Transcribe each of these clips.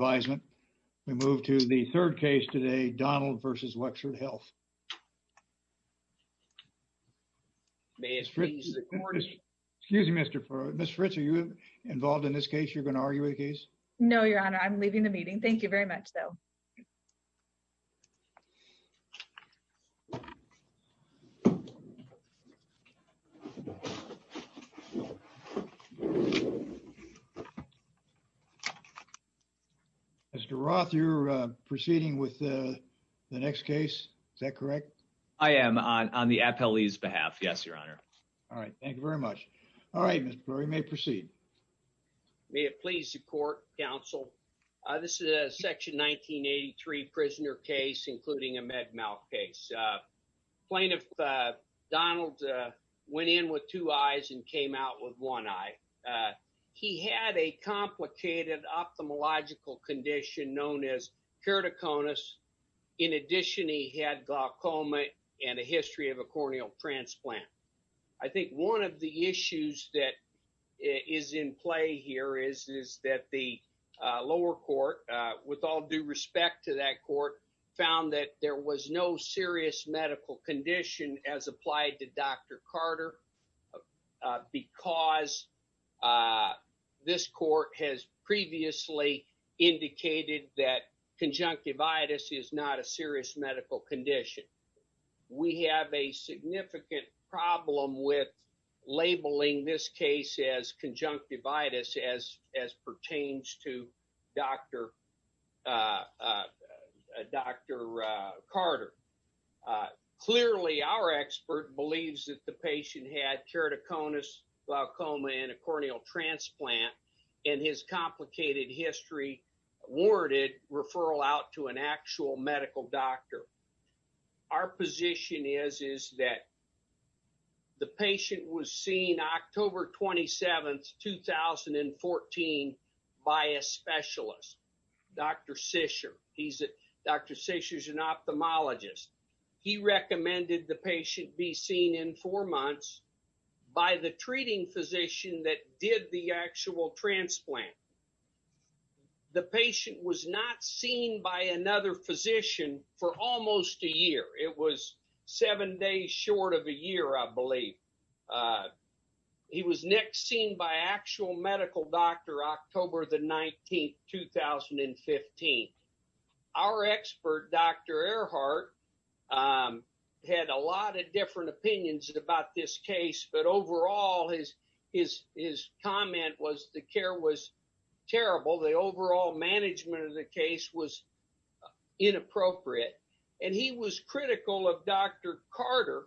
We move to the third case today, Donald v. Wexford Health. Excuse me, Mr. Fritz, are you involved in this case? You're going to argue the case? No, Your Honor, I'm leaving the meeting. Thank you very much, though. Mr. Roth, you're proceeding with the next case, is that correct? I am on the appellee's behalf, yes, Your Honor. All right, thank you very much. All right, Mr. Flurry, you may proceed. May it please the court, counsel? This is a Section 1983 prisoner case, including a med mal case. Plaintiff Donald went in with two eyes and came out with one eye. He had a complicated ophthalmological condition known as keratoconus. In addition, he had glaucoma and a history of a corneal transplant. I think one of the issues that is in play here is that the lower court, with all due respect to that court, found that there was no serious medical condition as applied to Dr. Carter because this court has previously indicated that conjunctivitis is not a serious medical condition. We have a significant problem with labeling this case as conjunctivitis as pertains to Dr. Carter. Clearly, our expert believes that the patient had keratoconus, glaucoma, and a corneal transplant, and his complicated history warranted referral out to by a specialist, Dr. Sisher. Dr. Sisher's an ophthalmologist. He recommended the patient be seen in four months by the treating physician that did the actual transplant. The patient was not seen by another physician for almost a year. It was seven days short of a year, I believe. He was next seen by actual medical doctor October the 19th, 2015. Our expert, Dr. Earhart, had a lot of different opinions about this case, but overall, his comment was the care was terrible. The overall management of the case was inappropriate. He was critical of Dr. Carter.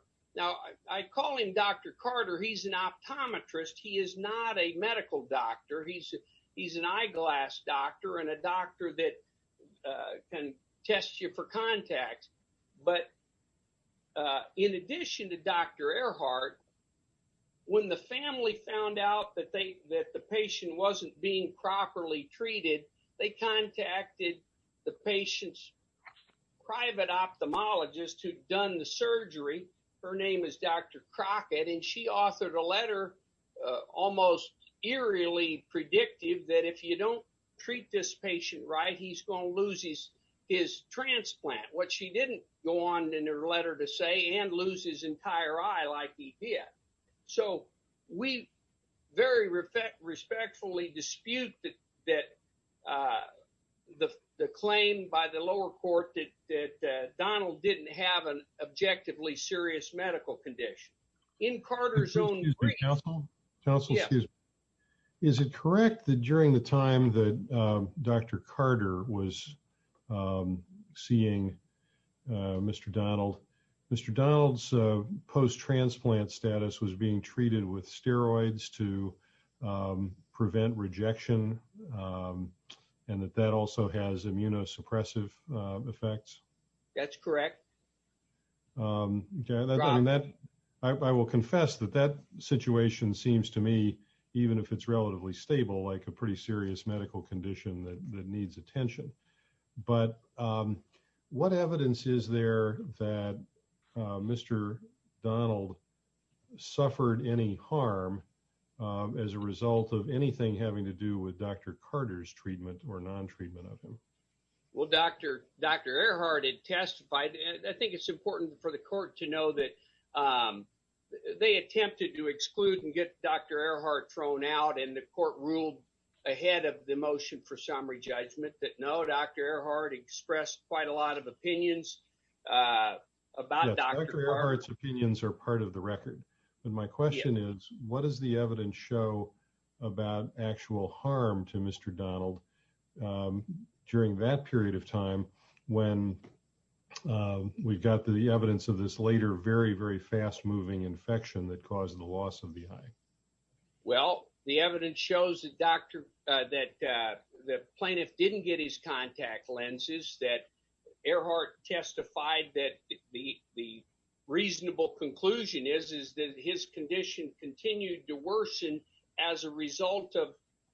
I call him Dr. Carter. He's an optometrist. He is not a medical doctor. He's an eyeglass doctor and a doctor that can test you for contacts. In addition to Dr. Earhart, when the family found out that the patient wasn't being properly treated, they contacted the patient's private ophthalmologist who'd done the surgery. Her name is Dr. Crockett. She authored a letter almost eerily predictive that if you don't treat this patient right, he's going to lose his transplant, which she didn't go on in her letter to say, and lose his entire eye like he did. So we very respectfully dispute that the claim by the lower court that Donald didn't have an objectively serious medical condition. In Carter's own- Excuse me, counsel. Counsel, excuse me. Is it correct that during the time that Dr. Carter was seeing Mr. Donald, Mr. Donald's transplant status was being treated with steroids to prevent rejection and that that also has immunosuppressive effects? That's correct. I will confess that that situation seems to me, even if it's relatively stable, like a pretty serious medical condition that needs attention. But what evidence is there that Mr. Donald suffered any harm as a result of anything having to do with Dr. Carter's treatment or non-treatment of him? Well, Dr. Earhart had testified, and I think it's important for the court to know that they attempted to exclude and get Dr. Earhart thrown out and the court ruled ahead of the motion for summary judgment that no, Dr. Earhart expressed quite a lot of opinions about Dr. Earhart. Yes, Dr. Earhart's opinions are part of the record. But my question is, what does the evidence show about actual harm to Mr. Donald during that period of time when we've got the evidence of this later very, very fast moving infection that caused the loss of the eye? Well, the evidence shows that the plaintiff didn't get his contact lenses, that Earhart testified that the reasonable conclusion is that his condition continued to worsen as a result of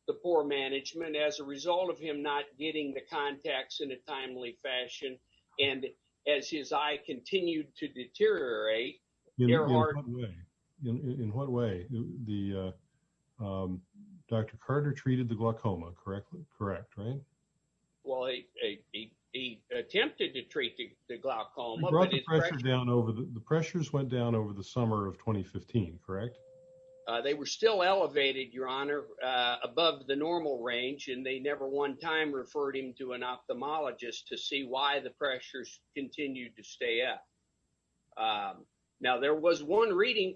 the poor management, as a result of him not getting the contacts in a timely fashion. And as his eye continued to deteriorate, Earhart- In what way? Dr. Carter treated the glaucoma correctly? Correct, right? Well, he attempted to treat the glaucoma- The pressures went down over the summer of 2015, correct? They were still elevated, Your Honor, above the normal range, and they never one time referred him to an ophthalmologist to see why the pressures continued to stay up. Now, there was one reading,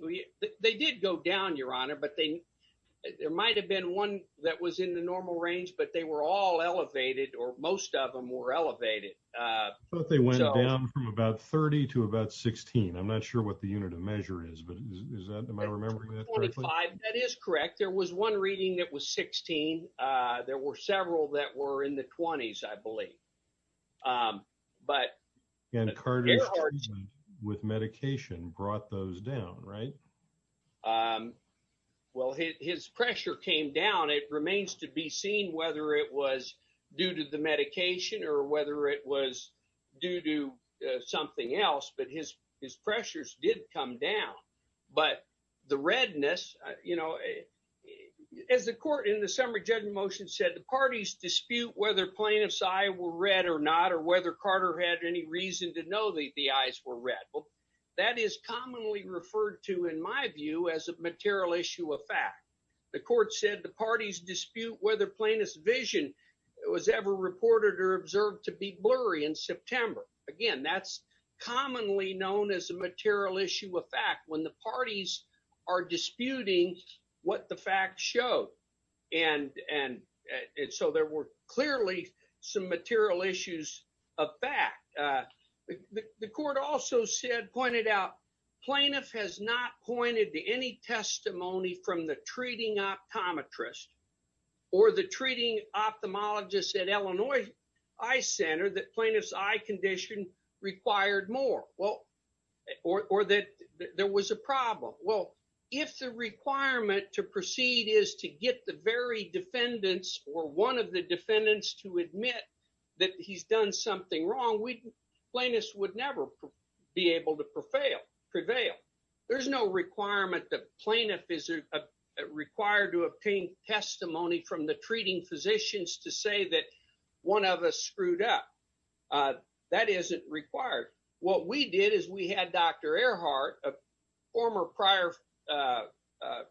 they did go down, Your Honor, but there might've been one that was in the normal range, but they were all elevated, or most of them were elevated. I thought they went down from about 30 to about 16. I'm not sure what the unit of measure is, but am I remembering that correctly? That is correct. There was one reading that was 16. There were several that were in the 20s, I believe. And Carter's treatment with medication brought those down, right? Well, his pressure came down. It remains to be seen whether it was due to the medication or whether it was due to something else, but his pressures did come down. But the redness, as the court in the summary judgment motion said, the parties dispute whether plaintiff's eye were red or not, or whether Carter had any reason to know that the eyes were red. Well, that is commonly referred to, in my view, as a material issue of fact. The court said the parties dispute whether plaintiff's vision was ever reported or observed to be blurry in September. Again, that's commonly known as a material issue of fact when the parties are disputing what the facts show. And so there were clearly some material issues of fact. The court also said, pointed out, plaintiff has not pointed to any testimony from the treating optometrist or the treating ophthalmologist at Illinois Eye Center that plaintiff's eye condition required more, or that there was a problem. Well, if the requirement to proceed is to get the very defendants or one of the defendants to admit that he's done something wrong, plaintiffs would never be able to prevail. There's no requirement that plaintiff is required to obtain testimony from the treating physicians to say that one of us screwed up. That isn't required. What we did is we had Dr. Earhart, a former prior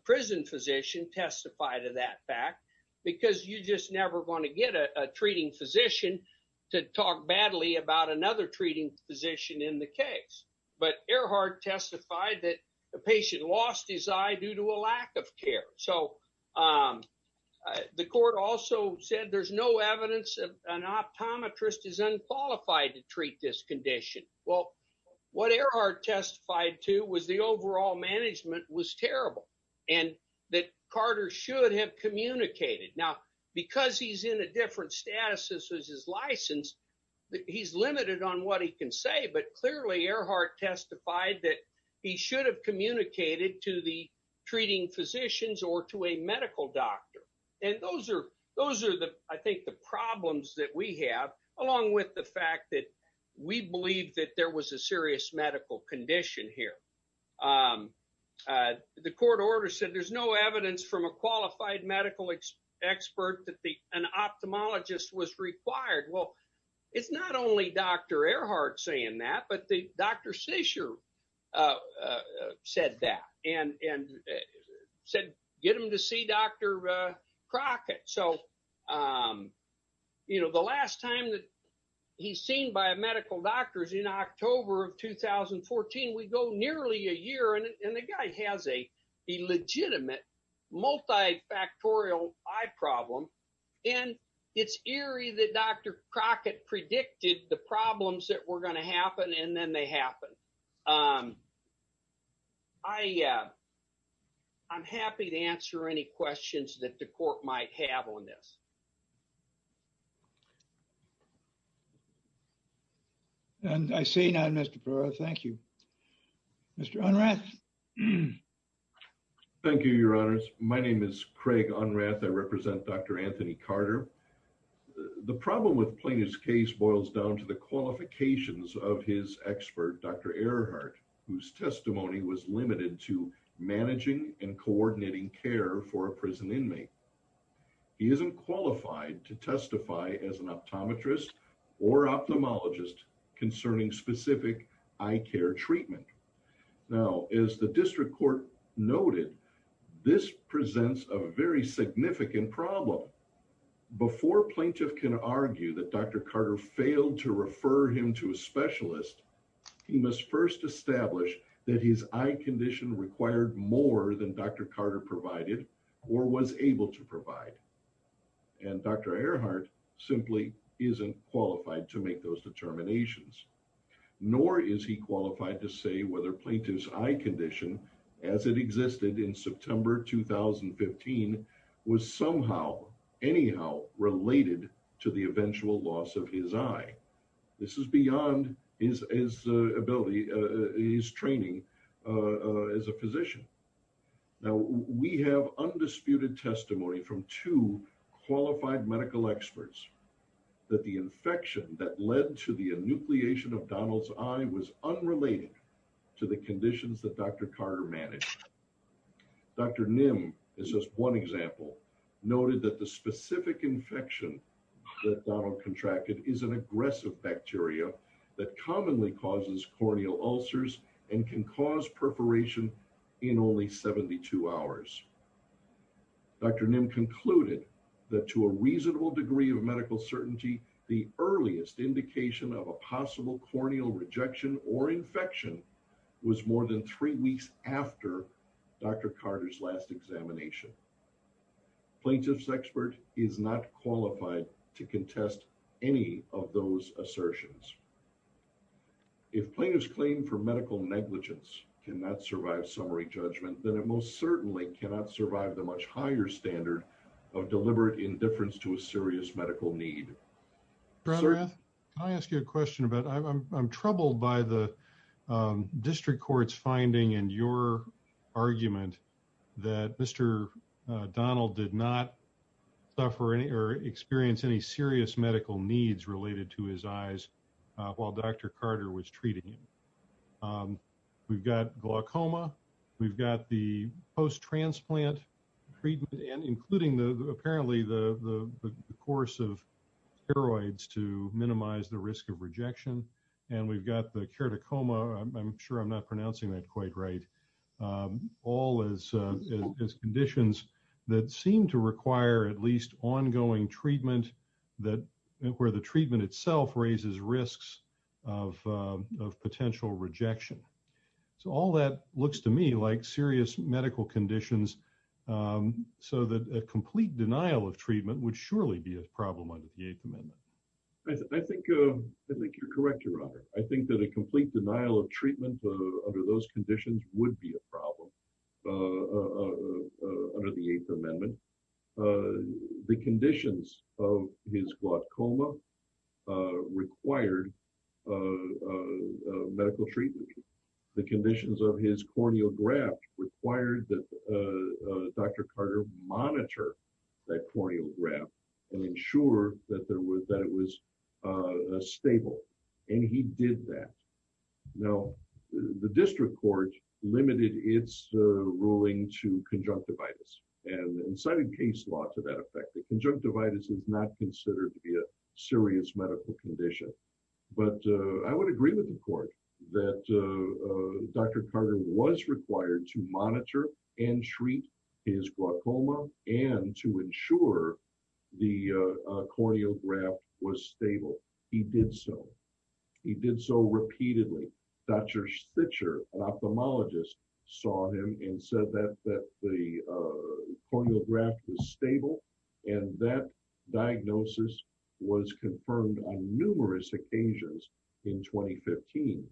prison physician, testify to that fact, because you're just never going to get a treating physician to talk badly about another treating physician in the case. But Earhart testified that the patient lost his eye due to a lack of care. So the court also said there's no evidence of an optometrist is unqualified to treat this condition. Well, what Earhart testified to was the overall management was terrible and that Carter should have communicated. Now, because he's in a different status as his license, he's limited on what he can say. But clearly Earhart testified that he should have communicated to the treating physicians or to a medical doctor. And those are the, I think, the problems that we have, along with the fact that we believe that there was a serious medical condition here. The court order said there's no evidence from a qualified medical expert that an ophthalmologist was required. Well, it's not only Dr. Earhart saying that, but Dr. Seicher said that and said, get him to see Dr. Crockett. So the last time that he's seen by a medical doctor is in October of 2014. We go nearly a year and the guy has a eye problem. And it's eerie that Dr. Crockett predicted the problems that were going to happen and then they happen. I'm happy to answer any questions that the court might have on this. And I say now, Mr. Brewer, thank you. Mr. Unrath. Thank you, your honors. My name is Craig Unrath. I represent Dr. Anthony Carter. The problem with Plainish's case boils down to the qualifications of his expert, Dr. Earhart, whose testimony was limited to managing and coordinating care for a prison inmate. He isn't qualified to testify as an optometrist or ophthalmologist concerning specific eye care treatment. Now, as the district court noted, this presents a very significant problem. Before plaintiff can argue that Dr. Carter failed to refer him to a specialist, he must first establish that his eye condition required more than Dr. Carter provided or was able to provide. And Dr. Earhart simply isn't qualified to make those determinations. Nor is he qualified to say whether plaintiff's eye condition as it existed in September 2015 was somehow, anyhow related to the eventual loss of his eye. This is beyond his ability, his training as a physician. Now, we have undisputed testimony from two qualified medical experts that the infection that led to the enucleation of Donald's eye was unrelated to the conditions that Dr. Carter managed. Dr. Nim is just one example, noted that the specific and can cause perforation in only 72 hours. Dr. Nim concluded that to a reasonable degree of medical certainty, the earliest indication of a possible corneal rejection or infection was more than three weeks after Dr. Carter's last examination. Plaintiff's expert is not qualified to contest any of those assertions. If plaintiff's claim for medical negligence cannot survive summary judgment, then it most certainly cannot survive the much higher standard of deliberate indifference to a serious medical need. Dr. Rath, can I ask you a question about, I'm troubled by the district court's finding in your serious medical needs related to his eyes while Dr. Carter was treating him. We've got glaucoma, we've got the post-transplant treatment, and including apparently the course of steroids to minimize the risk of rejection. And we've got the keratocoma, I'm sure I'm not pronouncing that quite right, all as conditions that seem to require at least ongoing treatment where the treatment itself raises risks of potential rejection. So all that looks to me like serious medical conditions so that a complete denial of treatment would surely be a problem under the Eighth Amendment. I think you're correct, your honor. I think that a complete denial of treatment under those conditions would be a problem under the Eighth Amendment. The conditions of his glaucoma required medical treatment. The conditions of his corneal graft required that Dr. Carter monitor that corneal graft and ensure that it was stable. And he did that. Now, the district court limited its ruling to conjunctivitis and incited case law to that effect. The conjunctivitis is not considered to be a serious medical condition. But I would agree with the court that Dr. Carter was required to monitor and treat his glaucoma and to ensure the corneal graft was stable. He did so. He did so repeatedly. Dr. Stitcher, an ophthalmologist, saw him and said that the corneal graft was stable. And that diagnosis was confirmed on numerous occasions in 2015.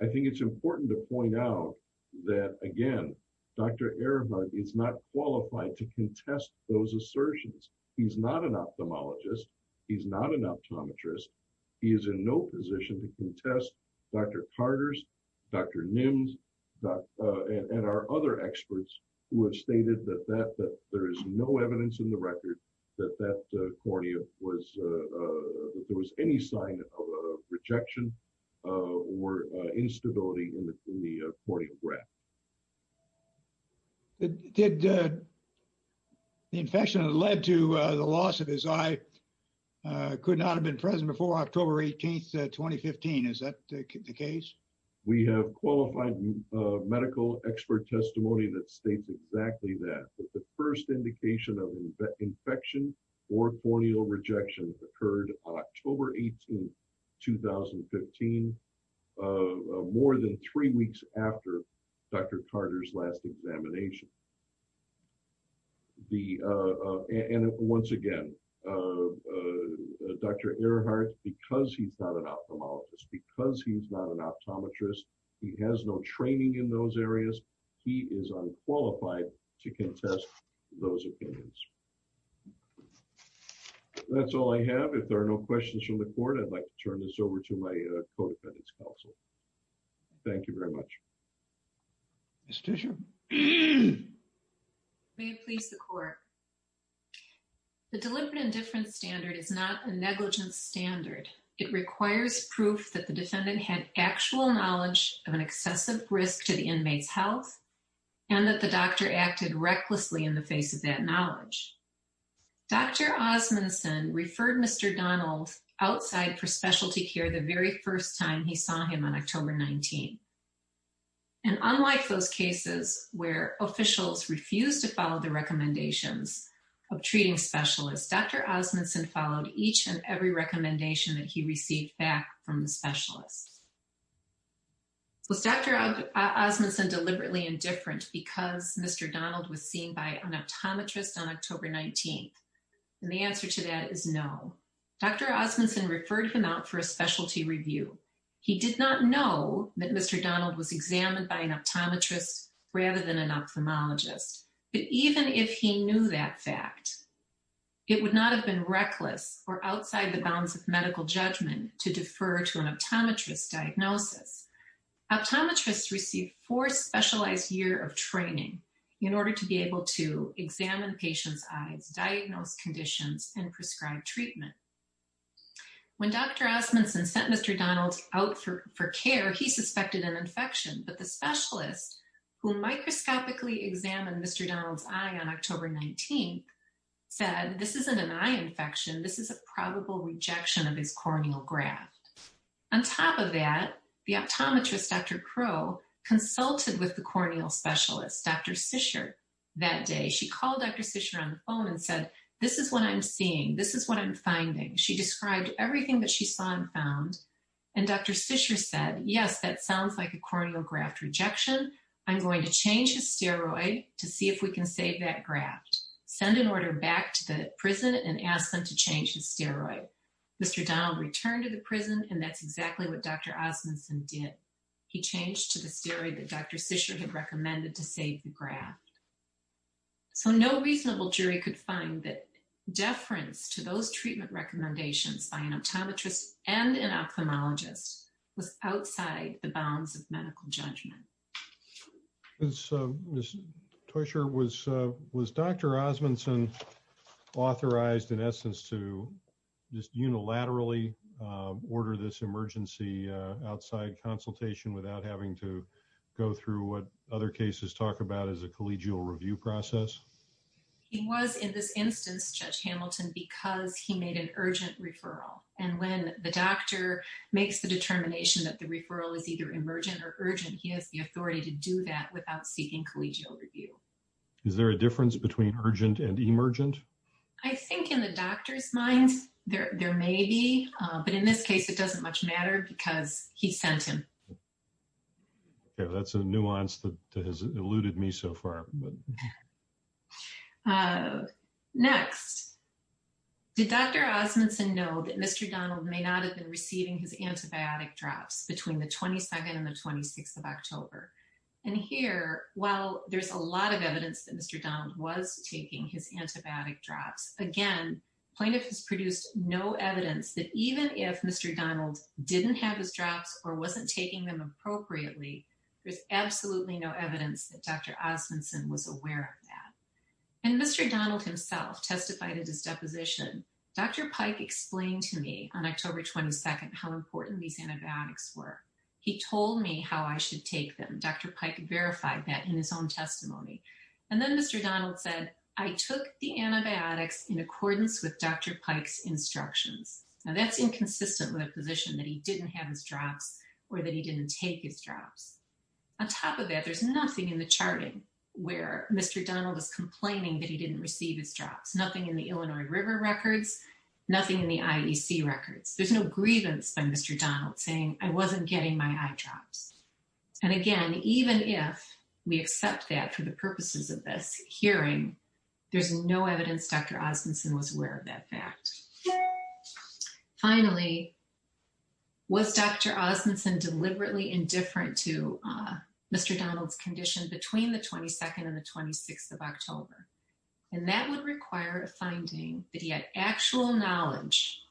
I think it's important to point out that again, Dr. Ehrenberg is not qualified to contest those assertions. He's not an ophthalmologist. He's not an optometrist. He is in no position to contest Dr. Carter's, Dr. Nim's, and our other experts who have stated that there is no evidence in the record that there was any sign of rejection or instability in the corneal graft. Did the infection that led to the loss of his eye could not have been present before October 18th, 2015? Is that the case? We have qualified medical expert testimony that states exactly that, that the first indication of infection or corneal rejection occurred on October 18th, 2015, more than three weeks after Dr. Carter's last examination. And once again, Dr. Ehrenberg, because he's not an ophthalmologist, because he's not an ophthalmologist, is not qualified to contest those opinions. That's all I have. If there are no questions from the court, I'd like to turn this over to my co-defendant's counsel. Thank you very much. Ms. Tischer. May it please the court. The delimited indifference standard is not a negligence standard. It requires proof that the defendant had actual knowledge of an excessive risk to the inmate's health, and that the doctor acted recklessly in the face of that knowledge. Dr. Osmundson referred Mr. Donald outside for specialty care the very first time he saw him on October 19th. And unlike those cases where officials refused to follow the recommendations of treating specialists, Dr. Osmundson followed each and every recommendation that he received back from the specialist. Was Dr. Osmundson deliberately indifferent because Mr. Donald was seen by an optometrist on October 19th? And the answer to that is no. Dr. Osmundson referred him out for a specialty review. He did not know that Mr. Donald was examined by an optometrist rather than an ophthalmologist. But even if he knew that fact, it would not have been reckless or outside the bounds of medical judgment to defer to an optometrist diagnosis. Optometrists receive four specialized years of training in order to be able to examine patients' eyes, diagnose conditions, and prescribe treatment. When Dr. Osmundson sent Mr. Donald out for care, he suspected an infection. But the specialist who microscopically examined Mr. Donald's eye on October 19th said, this isn't an eye infection, this is a probable rejection of his corneal graft. On top of that, the optometrist, Dr. Crow, consulted with the corneal specialist, Dr. Sisher, that day. She called Dr. Sisher on the phone and said, this is what I'm seeing. This is what I'm finding. She described everything that she saw and found. And Dr. Sisher said, yes, that sounds like a corneal graft rejection. I'm going to change his steroid to see if we can save that graft. Send an order back to the prison and ask them to change his steroid. Mr. Donald returned to the prison, and that's exactly what Dr. Osmundson did. He changed to the steroid that Dr. Sisher had recommended to save the graft. So no reasonable jury could find that deference to those treatment recommendations by an optometrist and an ophthalmologist was outside the bounds of medical judgment. So, Ms. Teuscher, was Dr. Osmundson authorized, in essence, to just unilaterally order this emergency outside consultation without having to go through what other cases talk about as a collegial review process? He was in this instance, Judge Hamilton, because he made an urgent referral. And when the doctor makes the determination that the referral is either or, he has the authority to do that without seeking collegial review. Is there a difference between urgent and emergent? I think in the doctor's mind, there may be. But in this case, it doesn't much matter because he sent him. That's a nuance that has eluded me so far. Next, did Dr. Osmundson know that Mr. Donald may not have been receiving his antibiotic drops between the 22nd and the 26th of October? And here, while there's a lot of evidence that Mr. Donald was taking his antibiotic drops, again, plaintiff has produced no evidence that even if Mr. Donald didn't have his drops or wasn't taking them appropriately, there's absolutely no evidence that Dr. Osmundson was aware of that. And Mr. Donald himself testified at his deposition. Dr. Pike explained to me on October 22nd, how important these antibiotics were. He told me how I should take them. Dr. Pike verified that in his own testimony. And then Mr. Donald said, I took the antibiotics in accordance with Dr. Pike's instructions. And that's inconsistent with a position that he didn't have his drops or that he didn't take his drops. On top of that, there's nothing in the charting where Mr. Donald was complaining that he didn't receive his drops. Nothing in the Illinois River records, nothing in the IEC records. There's no grievance by Mr. Donald saying I wasn't getting my eye drops. And again, even if we accept that for the purposes of this hearing, there's no evidence Dr. Osmundson was aware of that fact. Finally, was Dr. Osmundson deliberately indifferent to Mr. Donald's between the 22nd and the 26th of October. And that would require a finding that he had actual knowledge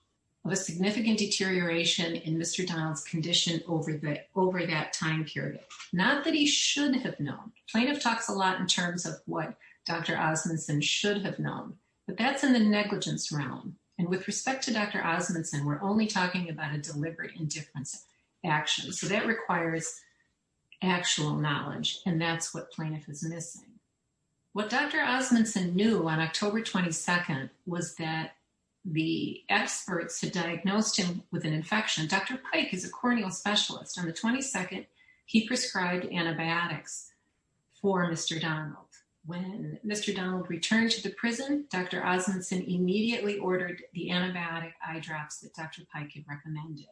of a significant deterioration in Mr. Donald's condition over that time period. Not that he should have known. Plaintiff talks a lot in terms of what Dr. Osmundson should have known, but that's in the negligence realm. And with respect to Dr. Osmundson, we're only talking about a deliberate indifference action. So that requires actual knowledge, and that's what plaintiff is missing. What Dr. Osmundson knew on October 22nd was that the experts had diagnosed him with an infection. Dr. Pike is a corneal specialist. On the 22nd, he prescribed antibiotics for Mr. Donald. When Mr. Donald returned to the prison, Dr. Osmundson immediately ordered the antibiotic eye drops that Dr. Pike had recommended.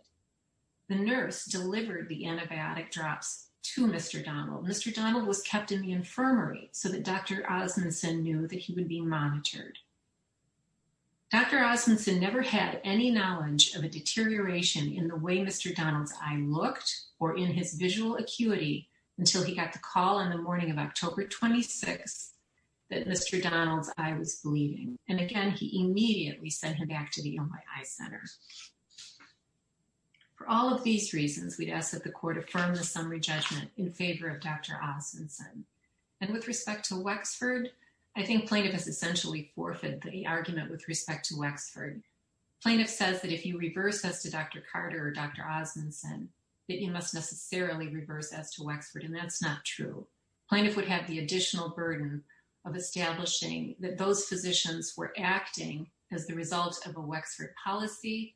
The nurse delivered the antibiotic drops to Mr. Donald. Mr. Donald was kept in the infirmary so that Dr. Osmundson knew that he would be monitored. Dr. Osmundson never had any knowledge of a deterioration in the way Mr. Donald's eye looked or in his visual acuity until he got the call in the morning of October 26th that Mr. Donald's eye was bleeding. And again, he immediately sent him back to the Illinois Eye Center. For all of these reasons, we'd ask that the court affirm the summary judgment in favor of Dr. Osmundson. And with respect to Wexford, I think plaintiff has essentially forfeited the argument with respect to Wexford. Plaintiff says that if you reverse as to Dr. Carter or Dr. Osmundson, that you must necessarily reverse as to Wexford, and that's not true. Plaintiff would have the additional burden of establishing that those physicians were acting as the result of a Wexford policy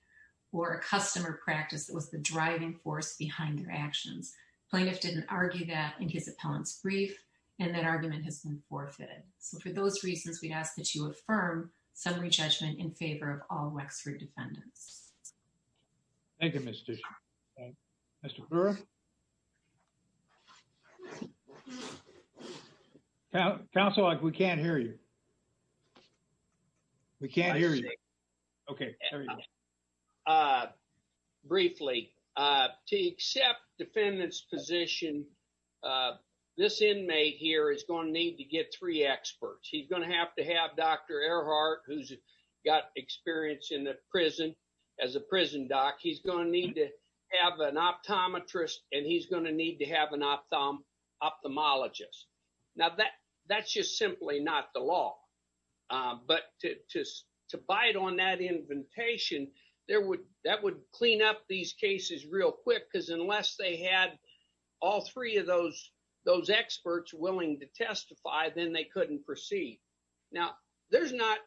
or a customer practice that was the driving force behind their actions. Plaintiff didn't argue that in his appellant's brief, and that argument has been forfeited. So for those reasons, we'd ask that you affirm summary judgment in favor of all Wexford defendants. Thank you, Mr. Mr. Brewer. Counsel, we can't hear you. We can't hear you. Okay. Briefly, to accept defendants position. This inmate here is going to need to get three experts, he's going to have to have Dr. Earhart, who's got experience in the prison, as a prison doc, he's going to need to have an optometrist, and he's going to need to have an ophthalmologist. Now, that's just simply not the law. But to bite on that invitation, that would clean up these cases real quick, because unless they had all three of those experts willing to testify, then they couldn't proceed. Now, there's not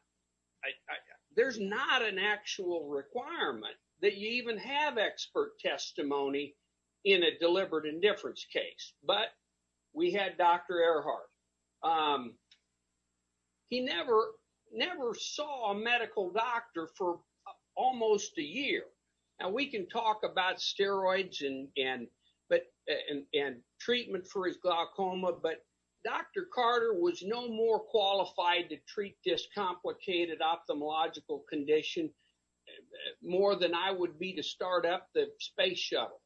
an actual requirement that you even have expert testimony in a deliberate indifference case, but we had Dr. Earhart. He never saw a medical doctor for almost a year. Now, we can talk about steroids and treatment for his glaucoma, but Dr. Carter was no more qualified to treat this complicated ophthalmological condition more than I would be to start up the space shuttle.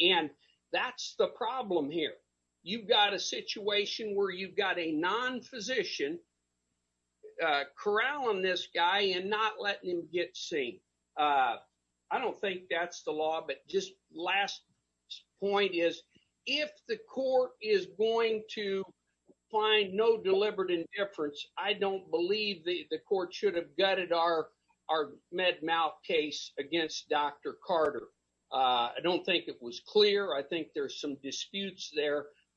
And that's the problem here. You've got a situation where you've got a non-physician corralling this guy and not letting him get seen. I don't think that's the law, but just last point is, if the court is going to find no deliberate indifference, I don't believe the court should have gutted our med mal case against Dr. Carter. I don't think it was clear. I think there's some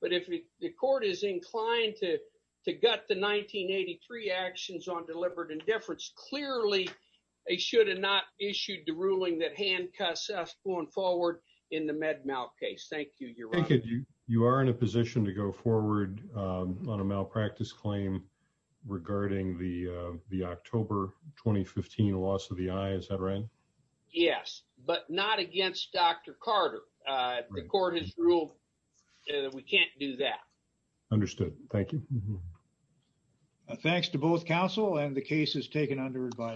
but if the court is inclined to gut the 1983 actions on deliberate indifference, clearly they should have not issued the ruling that handcuffs us going forward in the med mal case. Thank you, Your Honor. You are in a position to go forward on a malpractice claim regarding the October 2015 loss of the eye, is that right? Yes, but not against Dr. Carter. The court has ruled that we can't do that. Understood. Thank you. Thanks to both counsel and the case is taken under review.